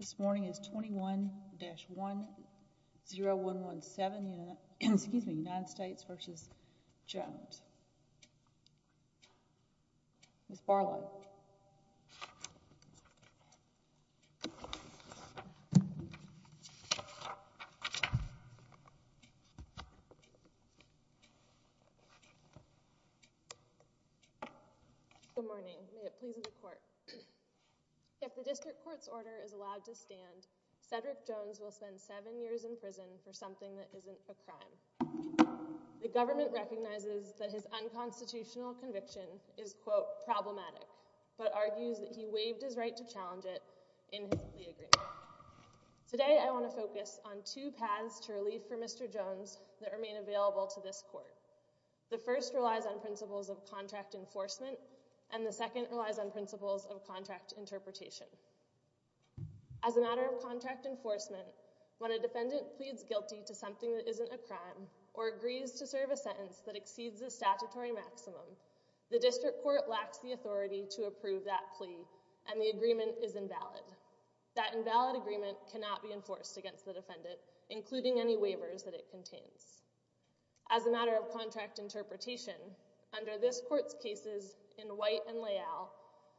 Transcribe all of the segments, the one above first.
This morning is 21-10117, United States v. Jones, Ms. Barlow. If the District Court's order is allowed to stand, Cedric Jones will spend seven years in prison for something that isn't a crime. The government recognizes that his unconstitutional conviction is, quote, problematic, but argues that he waived his right to challenge it in his plea agreement. Today, I want to focus on two paths to relief for Mr. Jones that remain available to this court. The first relies on principles of contract enforcement, and the second relies on principles of contract interpretation. As a matter of contract enforcement, when a defendant pleads guilty to something that is a crime or agrees to serve a sentence that exceeds the statutory maximum, the District Court lacks the authority to approve that plea, and the agreement is invalid. That invalid agreement cannot be enforced against the defendant, including any waivers that it contains. As a matter of contract interpretation, under this court's cases in White and Leal,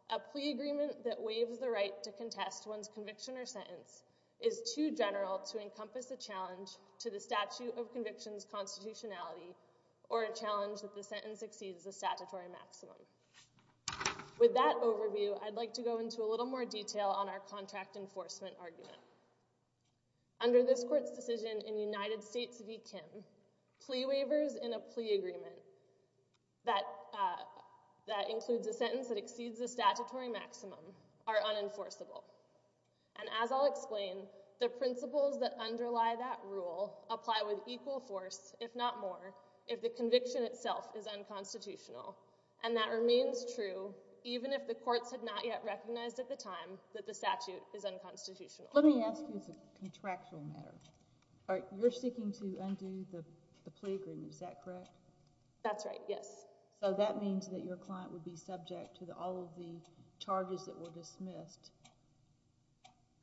a plea agreement that waives the right to contest one's conviction or sentence is too general to encompass a challenge to the statute of conviction's constitutionality or a challenge that the sentence exceeds the statutory maximum. With that overview, I'd like to go into a little more detail on our contract enforcement argument. Under this court's decision in United States v. Kim, plea waivers in a plea agreement that includes a sentence that exceeds the statutory maximum are unenforceable, and as I'll explain, the principles that underlie that rule apply with equal force, if not more, if the conviction itself is unconstitutional. And that remains true even if the courts had not yet recognized at the time that the statute is unconstitutional. Let me ask you as a contractual matter. You're seeking to undo the plea agreement, is that correct? That's right, yes. So that means that your client would be subject to all of the charges that were dismissed.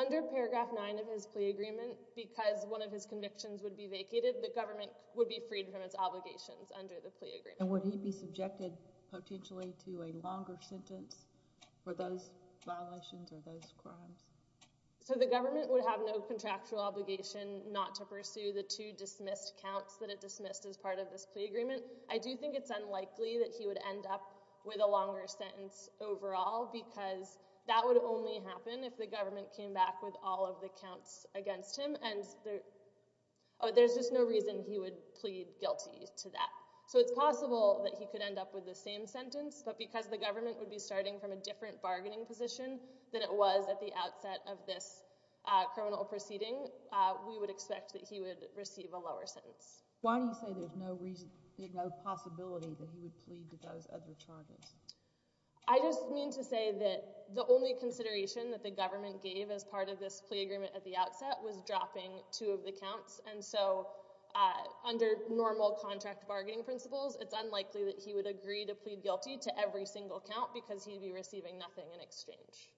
Under paragraph 9 of his plea agreement, because one of his convictions would be vacated, the government would be freed from its obligations under the plea agreement. And would he be subjected potentially to a longer sentence for those violations or those crimes? So the government would have no contractual obligation not to pursue the two dismissed counts that it dismissed as part of this plea agreement. I do think it's unlikely that he would end up with a longer sentence overall because that would only happen if the government came back with all of the counts against him. And there's just no reason he would plead guilty to that. So it's possible that he could end up with the same sentence, but because the government would be starting from a different bargaining position than it was at the outset of this criminal proceeding, we would expect that he would receive a lower sentence. Why do you say there's no possibility that he would plead to those other charges? I just mean to say that the only consideration that the government gave as part of this plea agreement at the outset was dropping two of the counts. And so under normal contract bargaining principles, it's unlikely that he would agree to plead guilty to every single count because he'd be receiving nothing in exchange.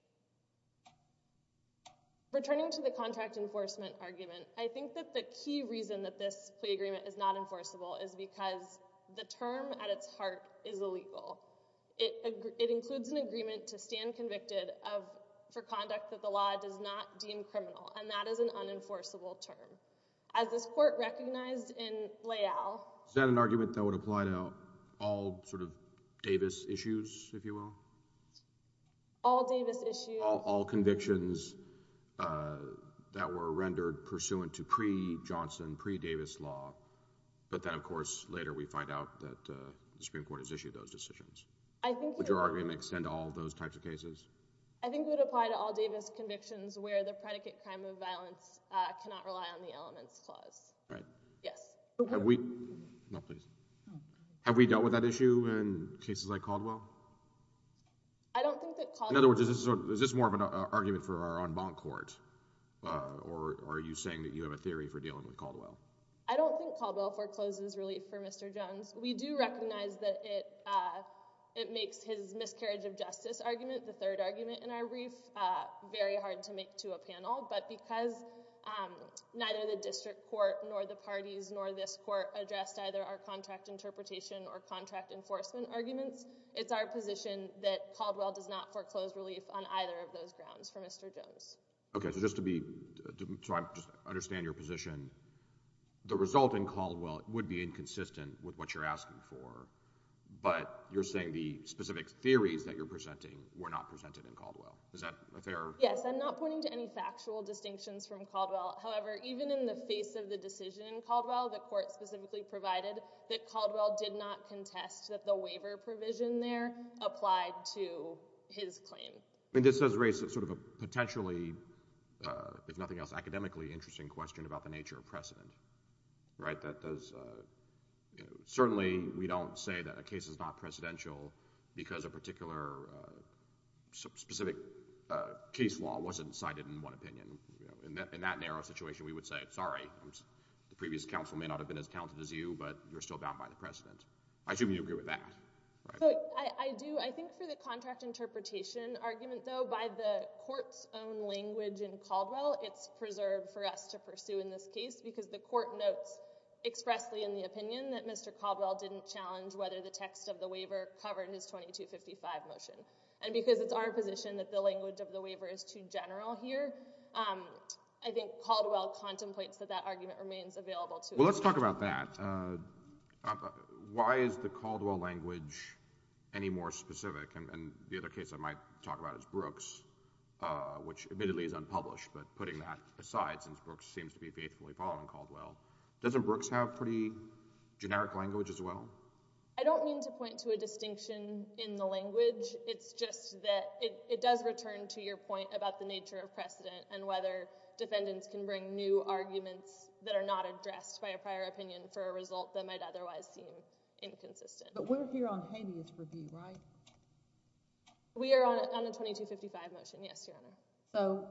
Returning to the contract enforcement argument, I think that the key reason that this plea agreement exists is that it includes an agreement to stand convicted for conduct that the law does not deem criminal, and that is an unenforceable term. As this court recognized in Layal— Is that an argument that would apply to all sort of Davis issues, if you will? All Davis issues— All convictions that were rendered pursuant to pre-Johnson, pre-Davis law, but then of Would your argument extend to all those types of cases? I think it would apply to all Davis convictions where the predicate crime of violence cannot rely on the elements clause. Right. Yes. Have we dealt with that issue in cases like Caldwell? I don't think that Caldwell— In other words, is this more of an argument for our own bond court, or are you saying that you have a theory for dealing with Caldwell? I don't think Caldwell forecloses relief for Mr. Jones. We do recognize that it makes his miscarriage of justice argument, the third argument in our brief, very hard to make to a panel, but because neither the district court nor the parties nor this court addressed either our contract interpretation or contract enforcement arguments, it's our position that Caldwell does not foreclose relief on either of those grounds for Mr. Jones. Okay. So just to understand your position, the result in Caldwell would be inconsistent with what you're asking for, but you're saying the specific theories that you're presenting were not presented in Caldwell. Is that fair? Yes. I'm not pointing to any factual distinctions from Caldwell. However, even in the face of the decision in Caldwell, the court specifically provided that Caldwell did not contest that the waiver provision there applied to his claim. This does raise sort of a potentially, if nothing else, academically interesting question about the nature of precedent. Certainly we don't say that a case is not presidential because a particular specific case law wasn't cited in one opinion. In that narrow situation, we would say, sorry, the previous counsel may not have been as talented as you, but you're still bound by the precedent. I assume you agree with that. I do. I think for the contract interpretation argument, though, by the court's own language in Caldwell, it's preserved for us to pursue in this case because the court notes expressly in the opinion that Mr. Caldwell didn't challenge whether the text of the waiver covered his 2255 motion. And because it's our position that the language of the waiver is too general here, I think Caldwell contemplates that that argument remains available to us. Well, let's talk about that. Why is the Caldwell language any more specific? And the other case I might talk about is Brooks, which admittedly is unpublished. But putting that aside, since Brooks seems to be faithfully following Caldwell, doesn't Brooks have pretty generic language as well? I don't mean to point to a distinction in the language. It's just that it does return to your point about the nature of precedent and whether defendants can bring new arguments that are not addressed by a prior opinion for a result that might otherwise seem inconsistent. But we're here on habeas review, right? We are on the 2255 motion, yes, Your Honor. So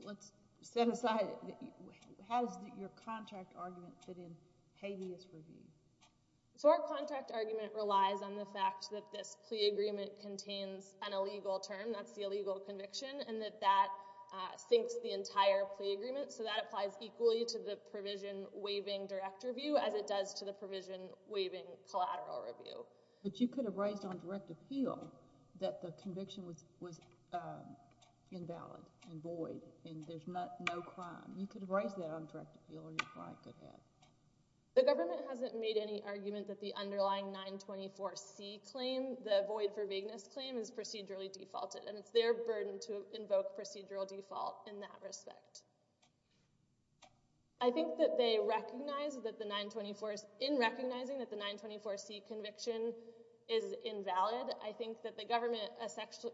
let's set aside, how does your contract argument fit in habeas review? So our contract argument relies on the fact that this plea agreement contains an illegal term, that's the illegal conviction, and that that sinks the entire plea agreement. So that applies equally to the provision waiving direct review as it does to the provision waiving collateral review. But you could have raised on direct appeal that the conviction was invalid and void and there's no crime. You could have raised that on direct appeal and your client could have. The government hasn't made any argument that the underlying 924C claim, the void for vagueness claim, is procedurally defaulted and it's their burden to invoke procedural default in that respect. I think that they recognize that the 924, in recognizing that the 924C conviction is invalid, I think that the government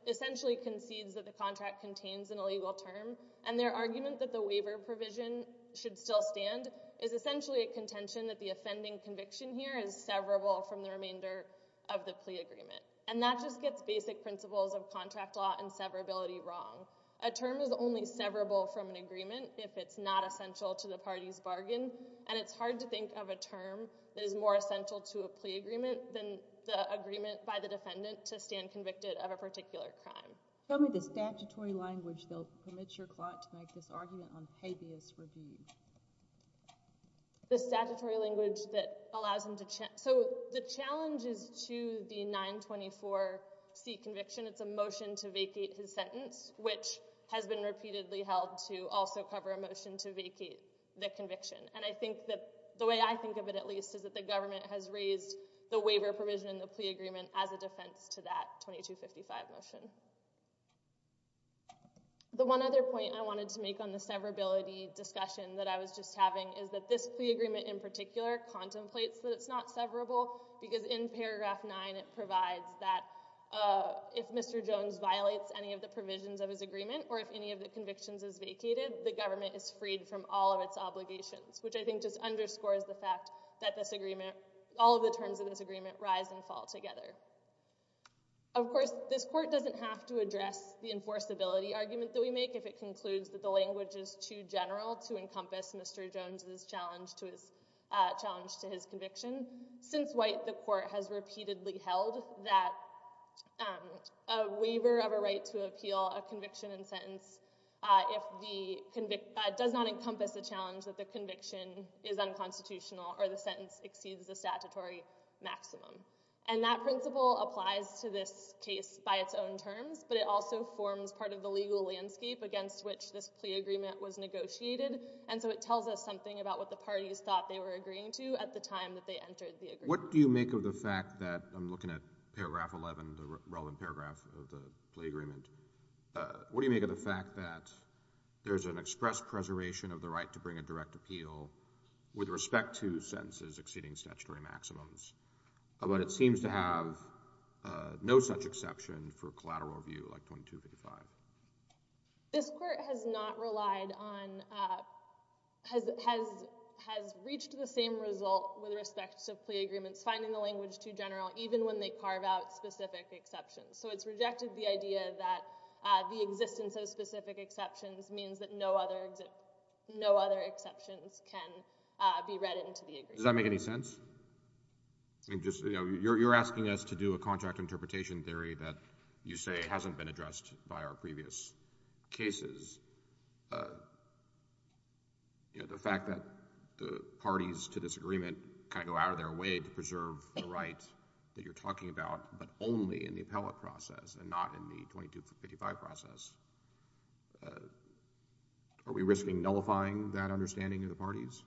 essentially concedes that the contract contains an illegal term and their argument that the waiver provision should still stand is essentially a contention that the offending conviction here is severable from the remainder of the plea agreement. And that just gets basic principles of contract law and severability wrong. A term is only severable from an agreement if it's not essential to the party's bargain and it's hard to think of a term that is more essential to a plea agreement than the agreement by the defendant to stand convicted of a particular crime. Tell me the statutory language that will permit your client to make this argument on habeas review. The statutory language that allows him to... So the challenge is to the 924C conviction, it's a motion to vacate his sentence, which has been repeatedly held to also cover a motion to vacate the conviction. And I think that, the way I think of it at least, is that the government has raised the waiver provision in the plea agreement as a defense to that 2255 motion. The one other point I wanted to make on the severability discussion that I was just having is that this plea agreement in particular contemplates that it's not severable because in paragraph 9 it provides that if Mr. Jones violates any of the provisions of his agreement or if any of the convictions is vacated, the government is freed from all of its obligations, which I think just underscores the fact that all of the terms of this agreement rise and fall together. Of course, this court doesn't have to address the enforceability argument that we make if it concludes that the language is too general to encompass Mr. Jones' challenge to his conviction. Since White, the court has repeatedly held that a waiver of a right to appeal a conviction and sentence does not encompass the challenge that the conviction is unconstitutional or the sentence exceeds the statutory maximum. And that principle applies to this case by its own terms, but it also forms part of the legal landscape against which this plea agreement was negotiated. And so it tells us something about what the parties thought they were agreeing to at the time that they entered the agreement. What do you make of the fact that, I'm looking at paragraph 11, the relevant paragraph of the plea agreement, what do you make of the fact that there's an express preservation of the right to bring a direct appeal with respect to sentences exceeding statutory maximums, but it seems to have no such exception for collateral review, like 2255? This court has not relied on, has reached the same result with respect to plea agreements finding the language too general, even when they carve out specific exceptions. So it's rejected the idea that the existence of specific exceptions means that no other exceptions can be read into the agreement. Does that make any sense? You're asking us to do a contract interpretation theory that you say hasn't been addressed by our previous cases. The fact that the parties to this agreement kind of go out of their way to preserve the right that you're talking about, but only in the appellate process and not in the 2255 process, are we risking nullifying that understanding of the parties?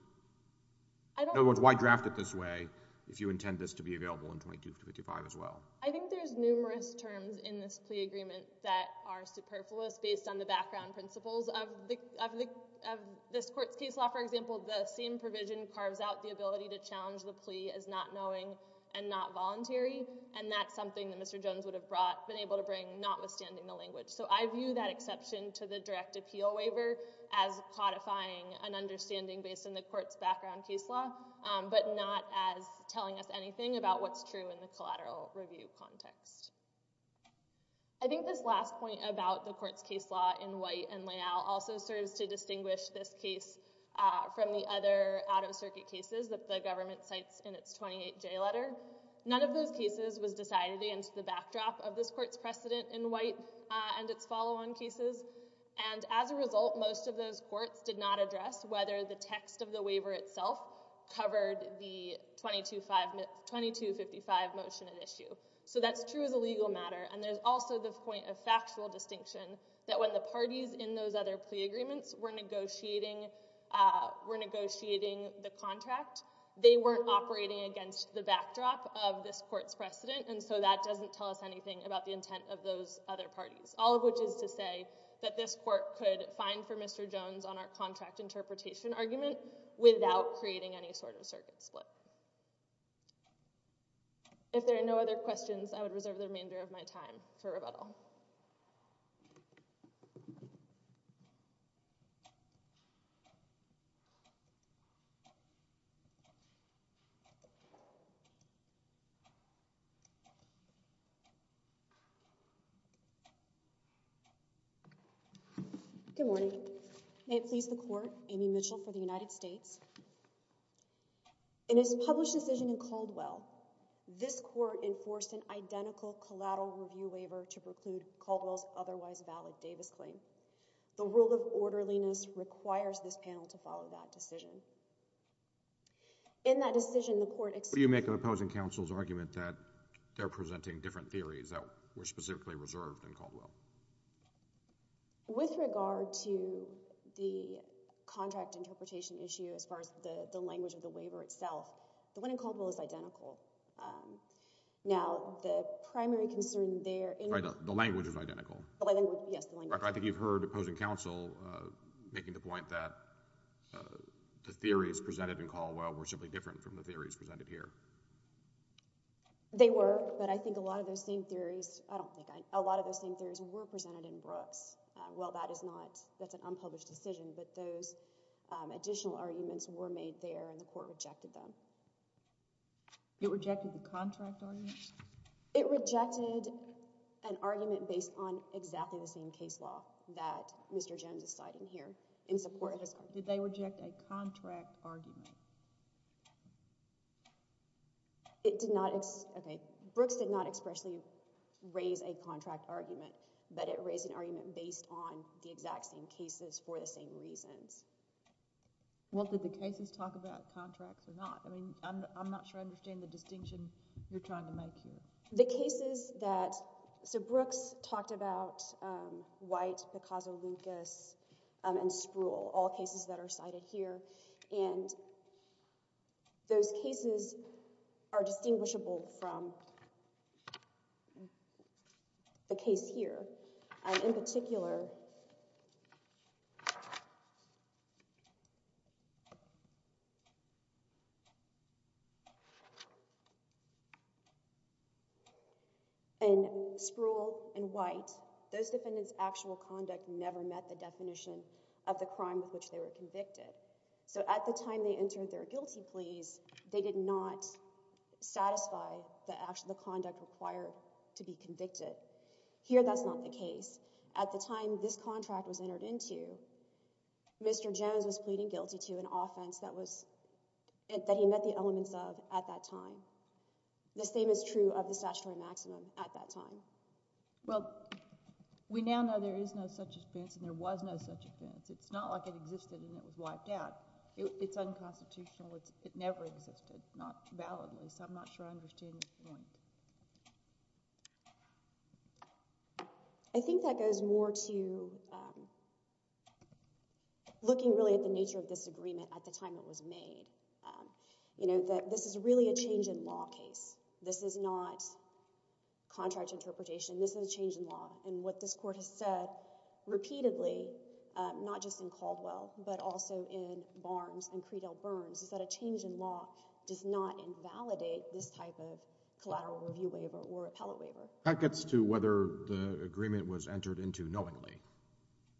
In other words, why draft it this way if you intend this to be available in 2255 as well? I think there's numerous terms in this plea agreement that are superfluous based on the background principles of this court's case law. For example, the same provision carves out the ability to challenge the plea as not knowing and not voluntary, and that's something that Mr. Jones would have been able to bring, notwithstanding the language. So I view that exception to the direct appeal waiver as codifying an understanding based on the court's background case law, but not as telling us anything about what's true in the collateral review context. I think this last point about the court's case law in White and Leal also serves to distinguish this case from the other out-of-circuit cases that the government cites in its 28J letter. None of those cases was decided against the backdrop of this court's precedent in White and its follow-on cases, and as a result, most of those courts did not address whether the text of the waiver itself covered the 2255 motion at issue. So that's true as a legal matter, and there's also the point of factual distinction that when the parties in those other plea agreements were negotiating the contract, they weren't operating against the backdrop of this court's precedent, and so that doesn't tell us anything about the intent of those other parties, all of which is to say that this court could fine for Mr. Jones on our contract interpretation argument without creating any sort of circuit split. If there are no other questions, I would reserve the remainder of my time for rebuttal. Good morning. May it please the court, Amy Mitchell for the United States. In its published decision in Caldwell, this court enforced an identical collateral review waiver to preclude Caldwell's otherwise valid Davis claim. The rule of orderliness requires this panel to follow that decision. In that decision, the court— But you make an opposing counsel's argument that they're presenting different theories that were specifically reserved in Caldwell. With regard to the contract interpretation issue as far as the language of the waiver itself, the one in Caldwell is identical. Now, the primary concern there— The language is identical. Yes, the language. I think you've heard opposing counsel making the point that the theories presented in Caldwell were simply different from the theories presented here. They were, but I think a lot of those same theories— I don't think—a lot of those same theories were presented in Brooks. Well, that is not—that's an unpublished decision, but those additional arguments were made there and the court rejected them. It rejected the contract argument? It rejected an argument based on exactly the same case law that Mr. Jones is citing here. In support of his— Did they reject a contract argument? It did not—okay. Brooks did not expressly raise a contract argument, but it raised an argument based on the exact same cases for the same reasons. Well, did the cases talk about contracts or not? I mean, I'm not sure I understand the distinction you're trying to make here. The cases that—so Brooks talked about White, Picasso, Lucas, and Spruill, all cases that are cited here. And those cases are distinguishable from the case here. In particular, in Spruill and White, those defendants' actual conduct never met the definition of the crime with which they were convicted. So at the time they entered their guilty pleas, they did not satisfy the conduct required to be convicted. Here, that's not the case. At the time this contract was entered into, Mr. Jones was pleading guilty to an offense that he met the elements of at that time. The same is true of the statutory maximum at that time. Well, we now know there is no such offense and there was no such offense. It's not like it existed and it was wiped out. It's unconstitutional. It never existed, not validly. So I'm not sure I understand your point. I think that goes more to looking really at the nature of this agreement at the time it was made. You know, this is really a change in law case. This is not contract interpretation. This is a change in law. And what this Court has said repeatedly, not just in Caldwell, but also in Barnes and Creedell Burns, is that a change in law does not invalidate this type of collateral review waiver or appellate waiver. That gets to whether the agreement was entered into knowingly.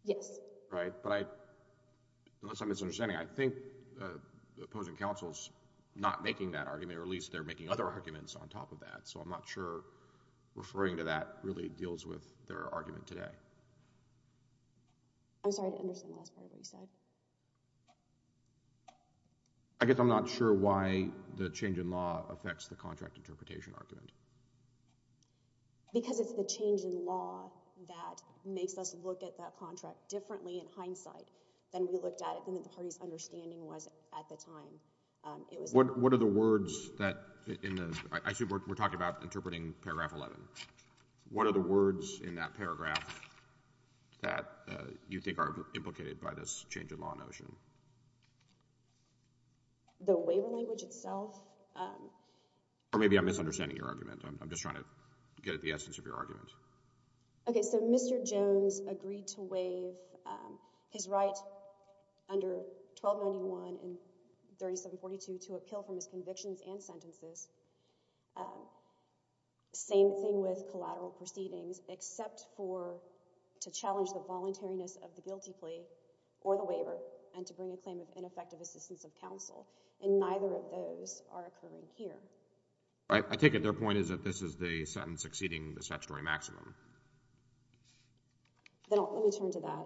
Yes. Right, but I, unless I'm misunderstanding, I think the opposing counsel is not making that argument, or at least they're making other arguments on top of that. So I'm not sure referring to that really deals with their argument today. I'm sorry to understand the last part of what you said. I guess I'm not sure why the change in law affects the contract interpretation argument. Because it's the change in law that makes us look at that contract differently in hindsight than we looked at it, than the party's understanding was at the time. What are the words that, I assume we're talking about interpreting paragraph 11. What are the words in that paragraph that you think are implicated by this change in law notion? The waiver language itself? Or maybe I'm misunderstanding your argument. I'm just trying to get at the essence of your argument. Okay, so Mr. Jones agreed to waive his right under 1291 and 3742 to appeal from his convictions and sentences. Same thing with collateral proceedings, except for to challenge the voluntariness of the guilty plea or the waiver and to bring a claim of ineffective assistance of counsel. And neither of those are occurring here. I take it their point is that this is the sentence exceeding the statutory maximum. Let me turn to that.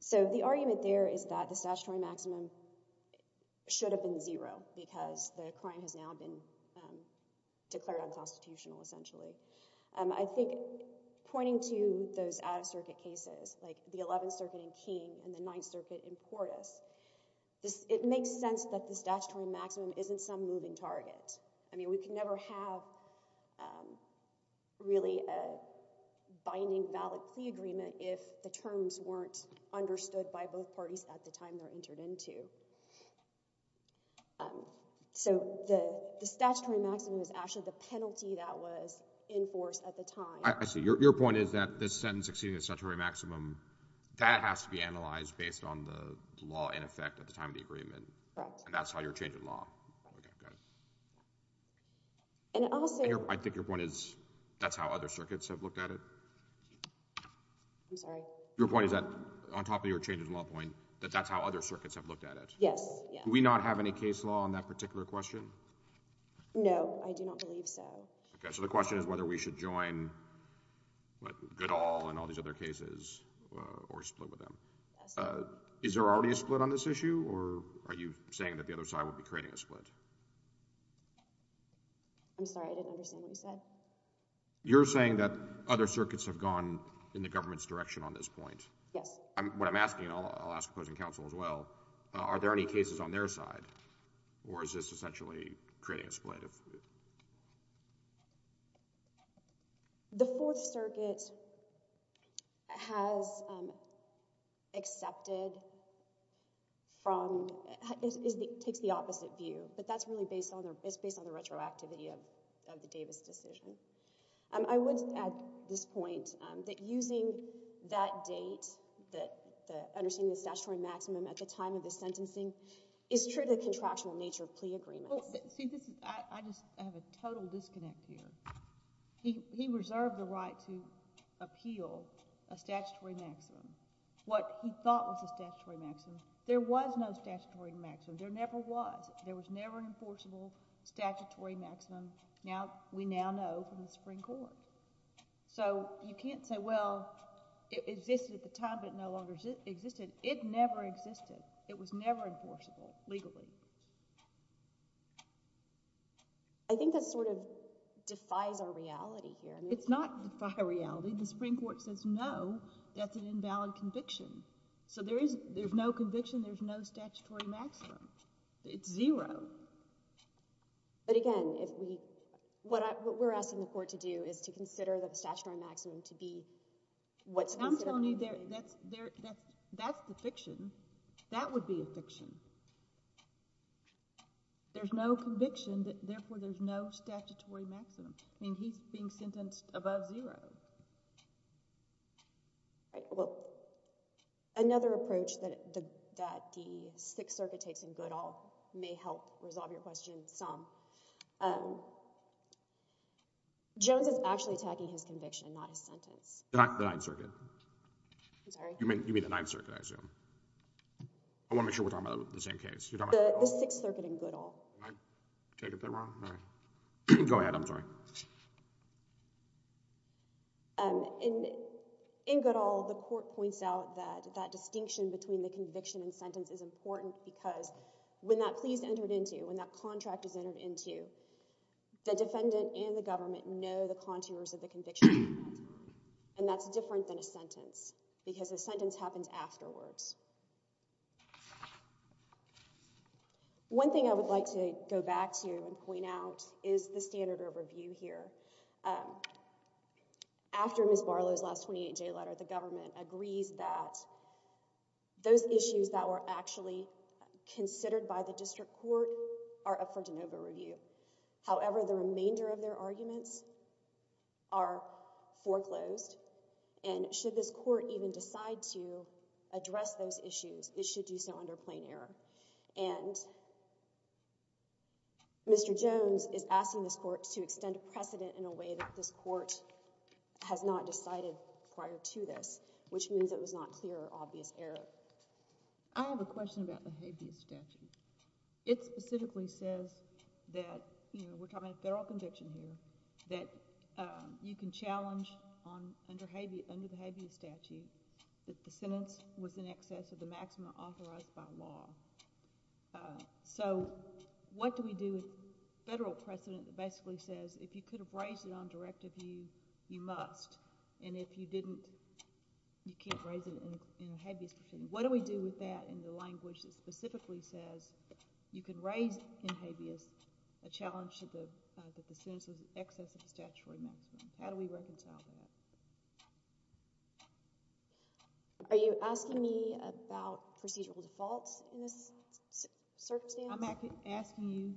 So the argument there is that the statutory maximum should have been zero because the crime has now been declared unconstitutional essentially. I think pointing to those out-of-circuit cases, like the 11th Circuit in Keene and the 9th Circuit in Portis, it makes sense that the statutory maximum isn't some moving target. I mean, we can never have really a binding valid plea agreement if the terms weren't understood by both parties at the time they're entered into. So the statutory maximum is actually the penalty that was enforced at the time. I see. Your point is that this sentence exceeding the statutory maximum, that has to be analyzed based on the law in effect at the time of the agreement. Correct. And that's how you're changing law. Okay, got it. And also— I think your point is that's how other circuits have looked at it. I'm sorry? Your point is that, on top of your change in law point, that that's how other circuits have looked at it. Yes. Do we not have any case law on that particular question? No, I do not believe so. Okay, so the question is whether we should join good all and all these other cases or split with them. Is there already a split on this issue, or are you saying that the other side will be creating a split? I'm sorry, I didn't understand what you said. You're saying that other circuits have gone in the government's direction on this point. Yes. What I'm asking, and I'll ask opposing counsel as well, are there any cases on their side, or is this essentially creating a split? The Fourth Circuit has accepted from—takes the opposite view, but that's really based on the retroactivity of the Davis decision. I would add this point, that using that date, understanding the statutory maximum at the time of the sentencing, is true of the contractual nature of plea agreements. See, I just have a total disconnect here. He reserved the right to appeal a statutory maximum. What he thought was a statutory maximum, there was no statutory maximum. There never was. There was never an enforceable statutory maximum. We now know from the Supreme Court. You can't say, well, it existed at the time, but it no longer existed. It never existed. It was never enforceable legally. I think that sort of defies our reality here. It's not defying reality. The Supreme Court says no, that's an invalid conviction. There's no conviction, there's no statutory maximum. It's zero. But again, what we're asking the court to do is to consider the statutory maximum to be what's considered... I'm telling you, that's the fiction. That would be a fiction. There's no conviction, therefore there's no statutory maximum. I mean, he's being sentenced above zero. All right, well, another approach that the Sixth Circuit takes in Goodall may help resolve your question some. Jones is actually attacking his conviction, not his sentence. The Ninth Circuit. I'm sorry? You mean the Ninth Circuit, I assume. I want to make sure we're talking about the same case. The Sixth Circuit in Goodall. Did I take it there wrong? All right. Go ahead, I'm sorry. In Goodall, the court points out that that distinction between the conviction and sentence is important because when that plea is entered into, when that contract is entered into, the defendant and the government know the contours of the conviction and that's different than a sentence because a sentence happens afterwards. One thing I would like to go back to and point out is the standard of review here. After Ms. Barlow's last 28-J letter, the government agrees that those issues that were actually considered by the district court are up for de novo review. However, the remainder of their arguments are foreclosed and should this court even decide to address those issues, it should do so under plain error. Mr. Jones is asking this court to extend a precedent in a way that this court has not decided prior to this, which means it was not clear or obvious error. I have a question about the habeas statute. It specifically says that we're talking about a federal conviction here that you can challenge under the habeas statute that the sentence was in excess of the maximum authorized by law. What do we do with federal precedent that basically says if you could have raised it on directive, you must, and if you didn't, you can't raise it in a habeas proceeding? What do we do with that in the language that specifically says you can raise in habeas a challenge that the sentence was in excess of the statutory maximum? How do we reconcile that? Are you asking me about procedural defaults in this circumstance? I'm asking you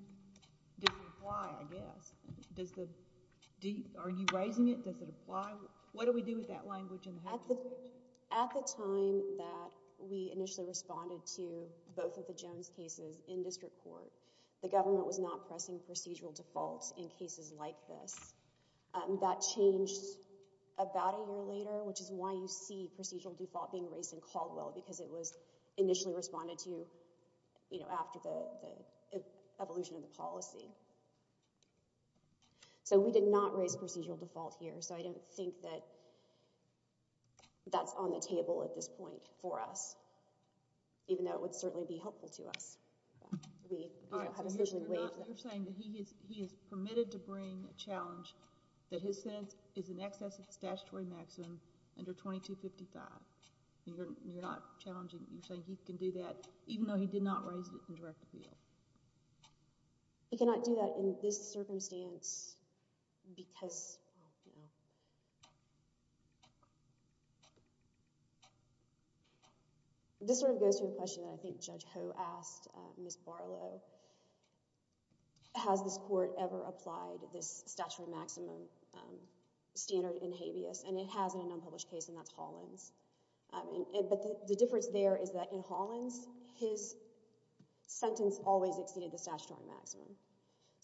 does it apply, I guess. Are you raising it? Does it apply? What do we do with that language in the habeas? At the time that we initially responded to both of the Jones cases in district court, the government was not pressing procedural defaults in cases like this. That changed about a year later, which is why you see procedural default being raised in Caldwell because it was initially responded to after the evolution of the policy. We did not raise procedural default here, so I don't think that that's on the table at this point for us, even though it would certainly be helpful to us. All right, so you're saying that he is permitted to bring a challenge that his sentence is in excess of the statutory maximum under 2255. You're not challenging, you're saying he can do that even though he did not raise it in direct appeal. He cannot do that in this circumstance because... Ms. Barlow, has this court ever applied this statutory maximum standard in habeas, and it has in an unpublished case, and that's Hollins. The difference there is that in Hollins, his sentence always exceeded the statutory maximum.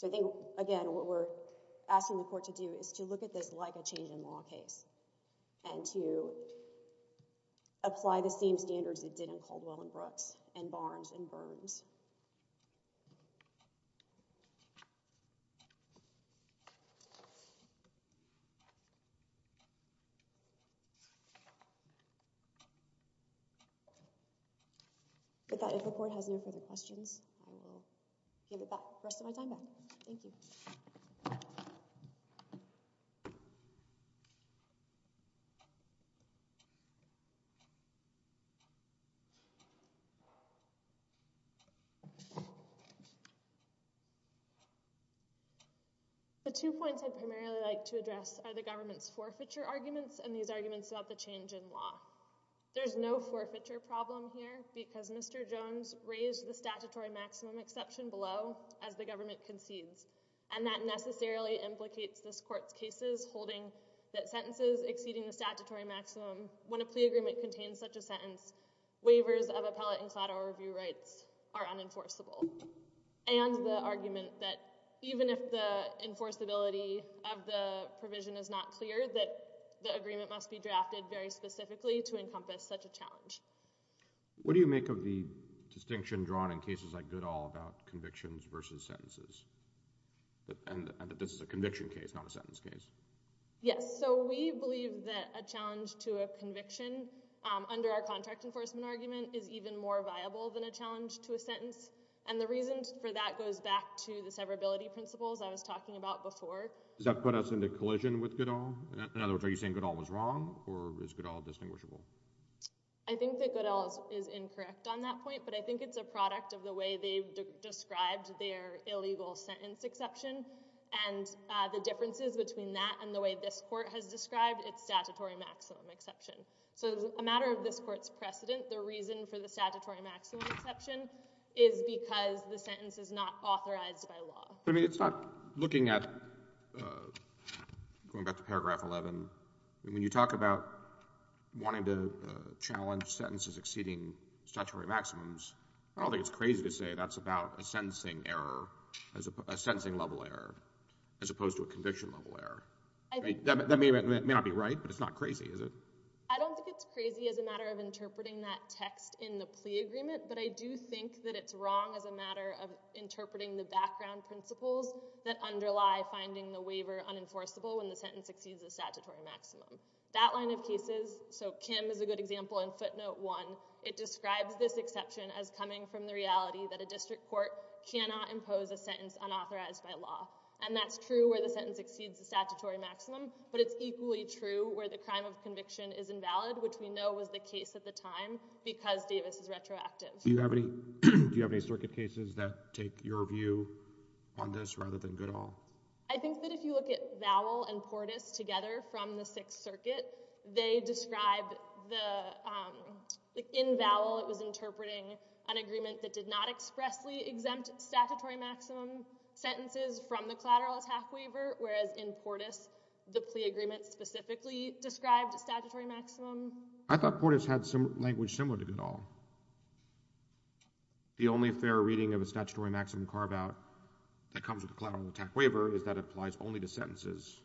I think, again, what we're asking the court to do is to look at this like a change in law case and to apply the same standards it did in Caldwell and Brooks and Barnes and Burns. With that, if the court has no further questions, I will give the rest of my time back. Thank you. The two points I'd primarily like to address are the government's forfeiture arguments and these arguments about the change in law. There's no forfeiture problem here because Mr. Jones raised the statutory maximum exception below as the government concedes, and that necessarily implicates this court's cases holding that sentences exceeding the statutory maximum when a plea agreement contains such a sentence, waivers of appellate and collateral review rights are unenforceable, and the argument that even if the enforceability of the provision is not clear, that the agreement must be drafted very specifically to encompass such a challenge. What do you make of the distinction drawn in cases like Goodall about convictions versus sentences, and that this is a conviction case, not a sentence case? Yes, so we believe that a challenge to a conviction under our contract enforcement argument is even more viable than a challenge to a sentence, and the reason for that goes back to the severability principles I was talking about before. Does that put us into collision with Goodall? In other words, are you saying Goodall was wrong, or is Goodall distinguishable? I think that Goodall is incorrect on that point, but I think it's a product of the way they've described their illegal sentence exception, and the differences between that and the way this court has described its statutory maximum exception. So as a matter of this court's precedent, the reason for the statutory maximum exception is because the sentence is not authorized by law. But it's not looking at, going back to paragraph 11, when you talk about wanting to challenge sentences exceeding statutory maximums, I don't think it's crazy to say that's about a sentencing level error as opposed to a conviction level error. That may not be right, but it's not crazy, is it? I don't think it's crazy as a matter of interpreting that text in the plea agreement, but I do think that it's wrong as a matter of interpreting the background principles that underlie finding the waiver unenforceable when the sentence exceeds the statutory maximum. That line of cases, so Kim is a good example in footnote 1, it describes this exception as coming from the reality that a district court cannot impose a sentence unauthorized by law. And that's true where the sentence exceeds the statutory maximum, but it's equally true where the crime of conviction is invalid, which we know was the case at the time, because Davis is retroactive. Do you have any circuit cases that take your view on this rather than Goodall? I think that if you look at Vowell and Portis together from the Sixth Circuit, they describe the, in Vowell it was interpreting an agreement that did not expressly exempt statutory maximum sentences from the collateral attack waiver, whereas in Portis the plea agreement specifically described statutory maximum. I thought Portis had language similar to Goodall. The only fair reading of a statutory maximum carve-out that comes with a collateral attack waiver is that it applies only to sentences.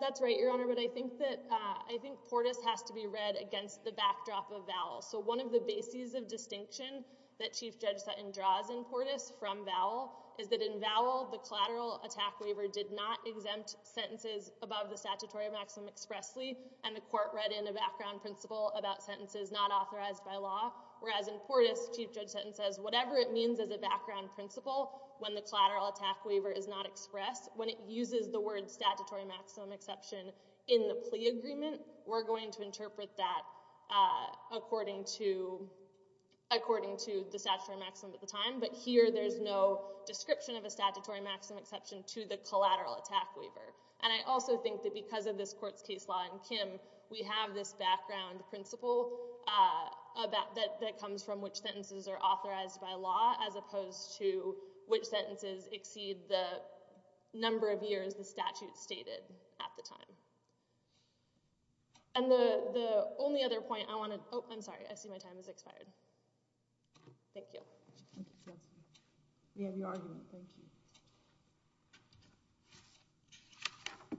That's right, Your Honor, but I think that, I think Portis has to be read against the backdrop of Vowell. So one of the bases of distinction that Chief Judge Sutton draws in Portis from Vowell is that in Vowell the collateral attack waiver did not exempt sentences above the statutory maximum expressly, and the court read in a background principle about sentences not authorized by law, whereas in Portis Chief Judge Sutton says whatever it means as a background principle when the collateral attack waiver is not expressed, when it uses the word statutory maximum exception in the plea agreement, we're going to interpret that according to the statutory maximum at the time, but here there's no description of a statutory maximum exception to the collateral attack waiver, and I also think that because of this court's case law in Kim, we have this background principle that comes from which sentences are authorized by law as opposed to which sentences exceed the number of years the statute stated at the time. And the only other point I want to, oh, I'm sorry. I see my time has expired. Thank you. We have your argument. Thank you.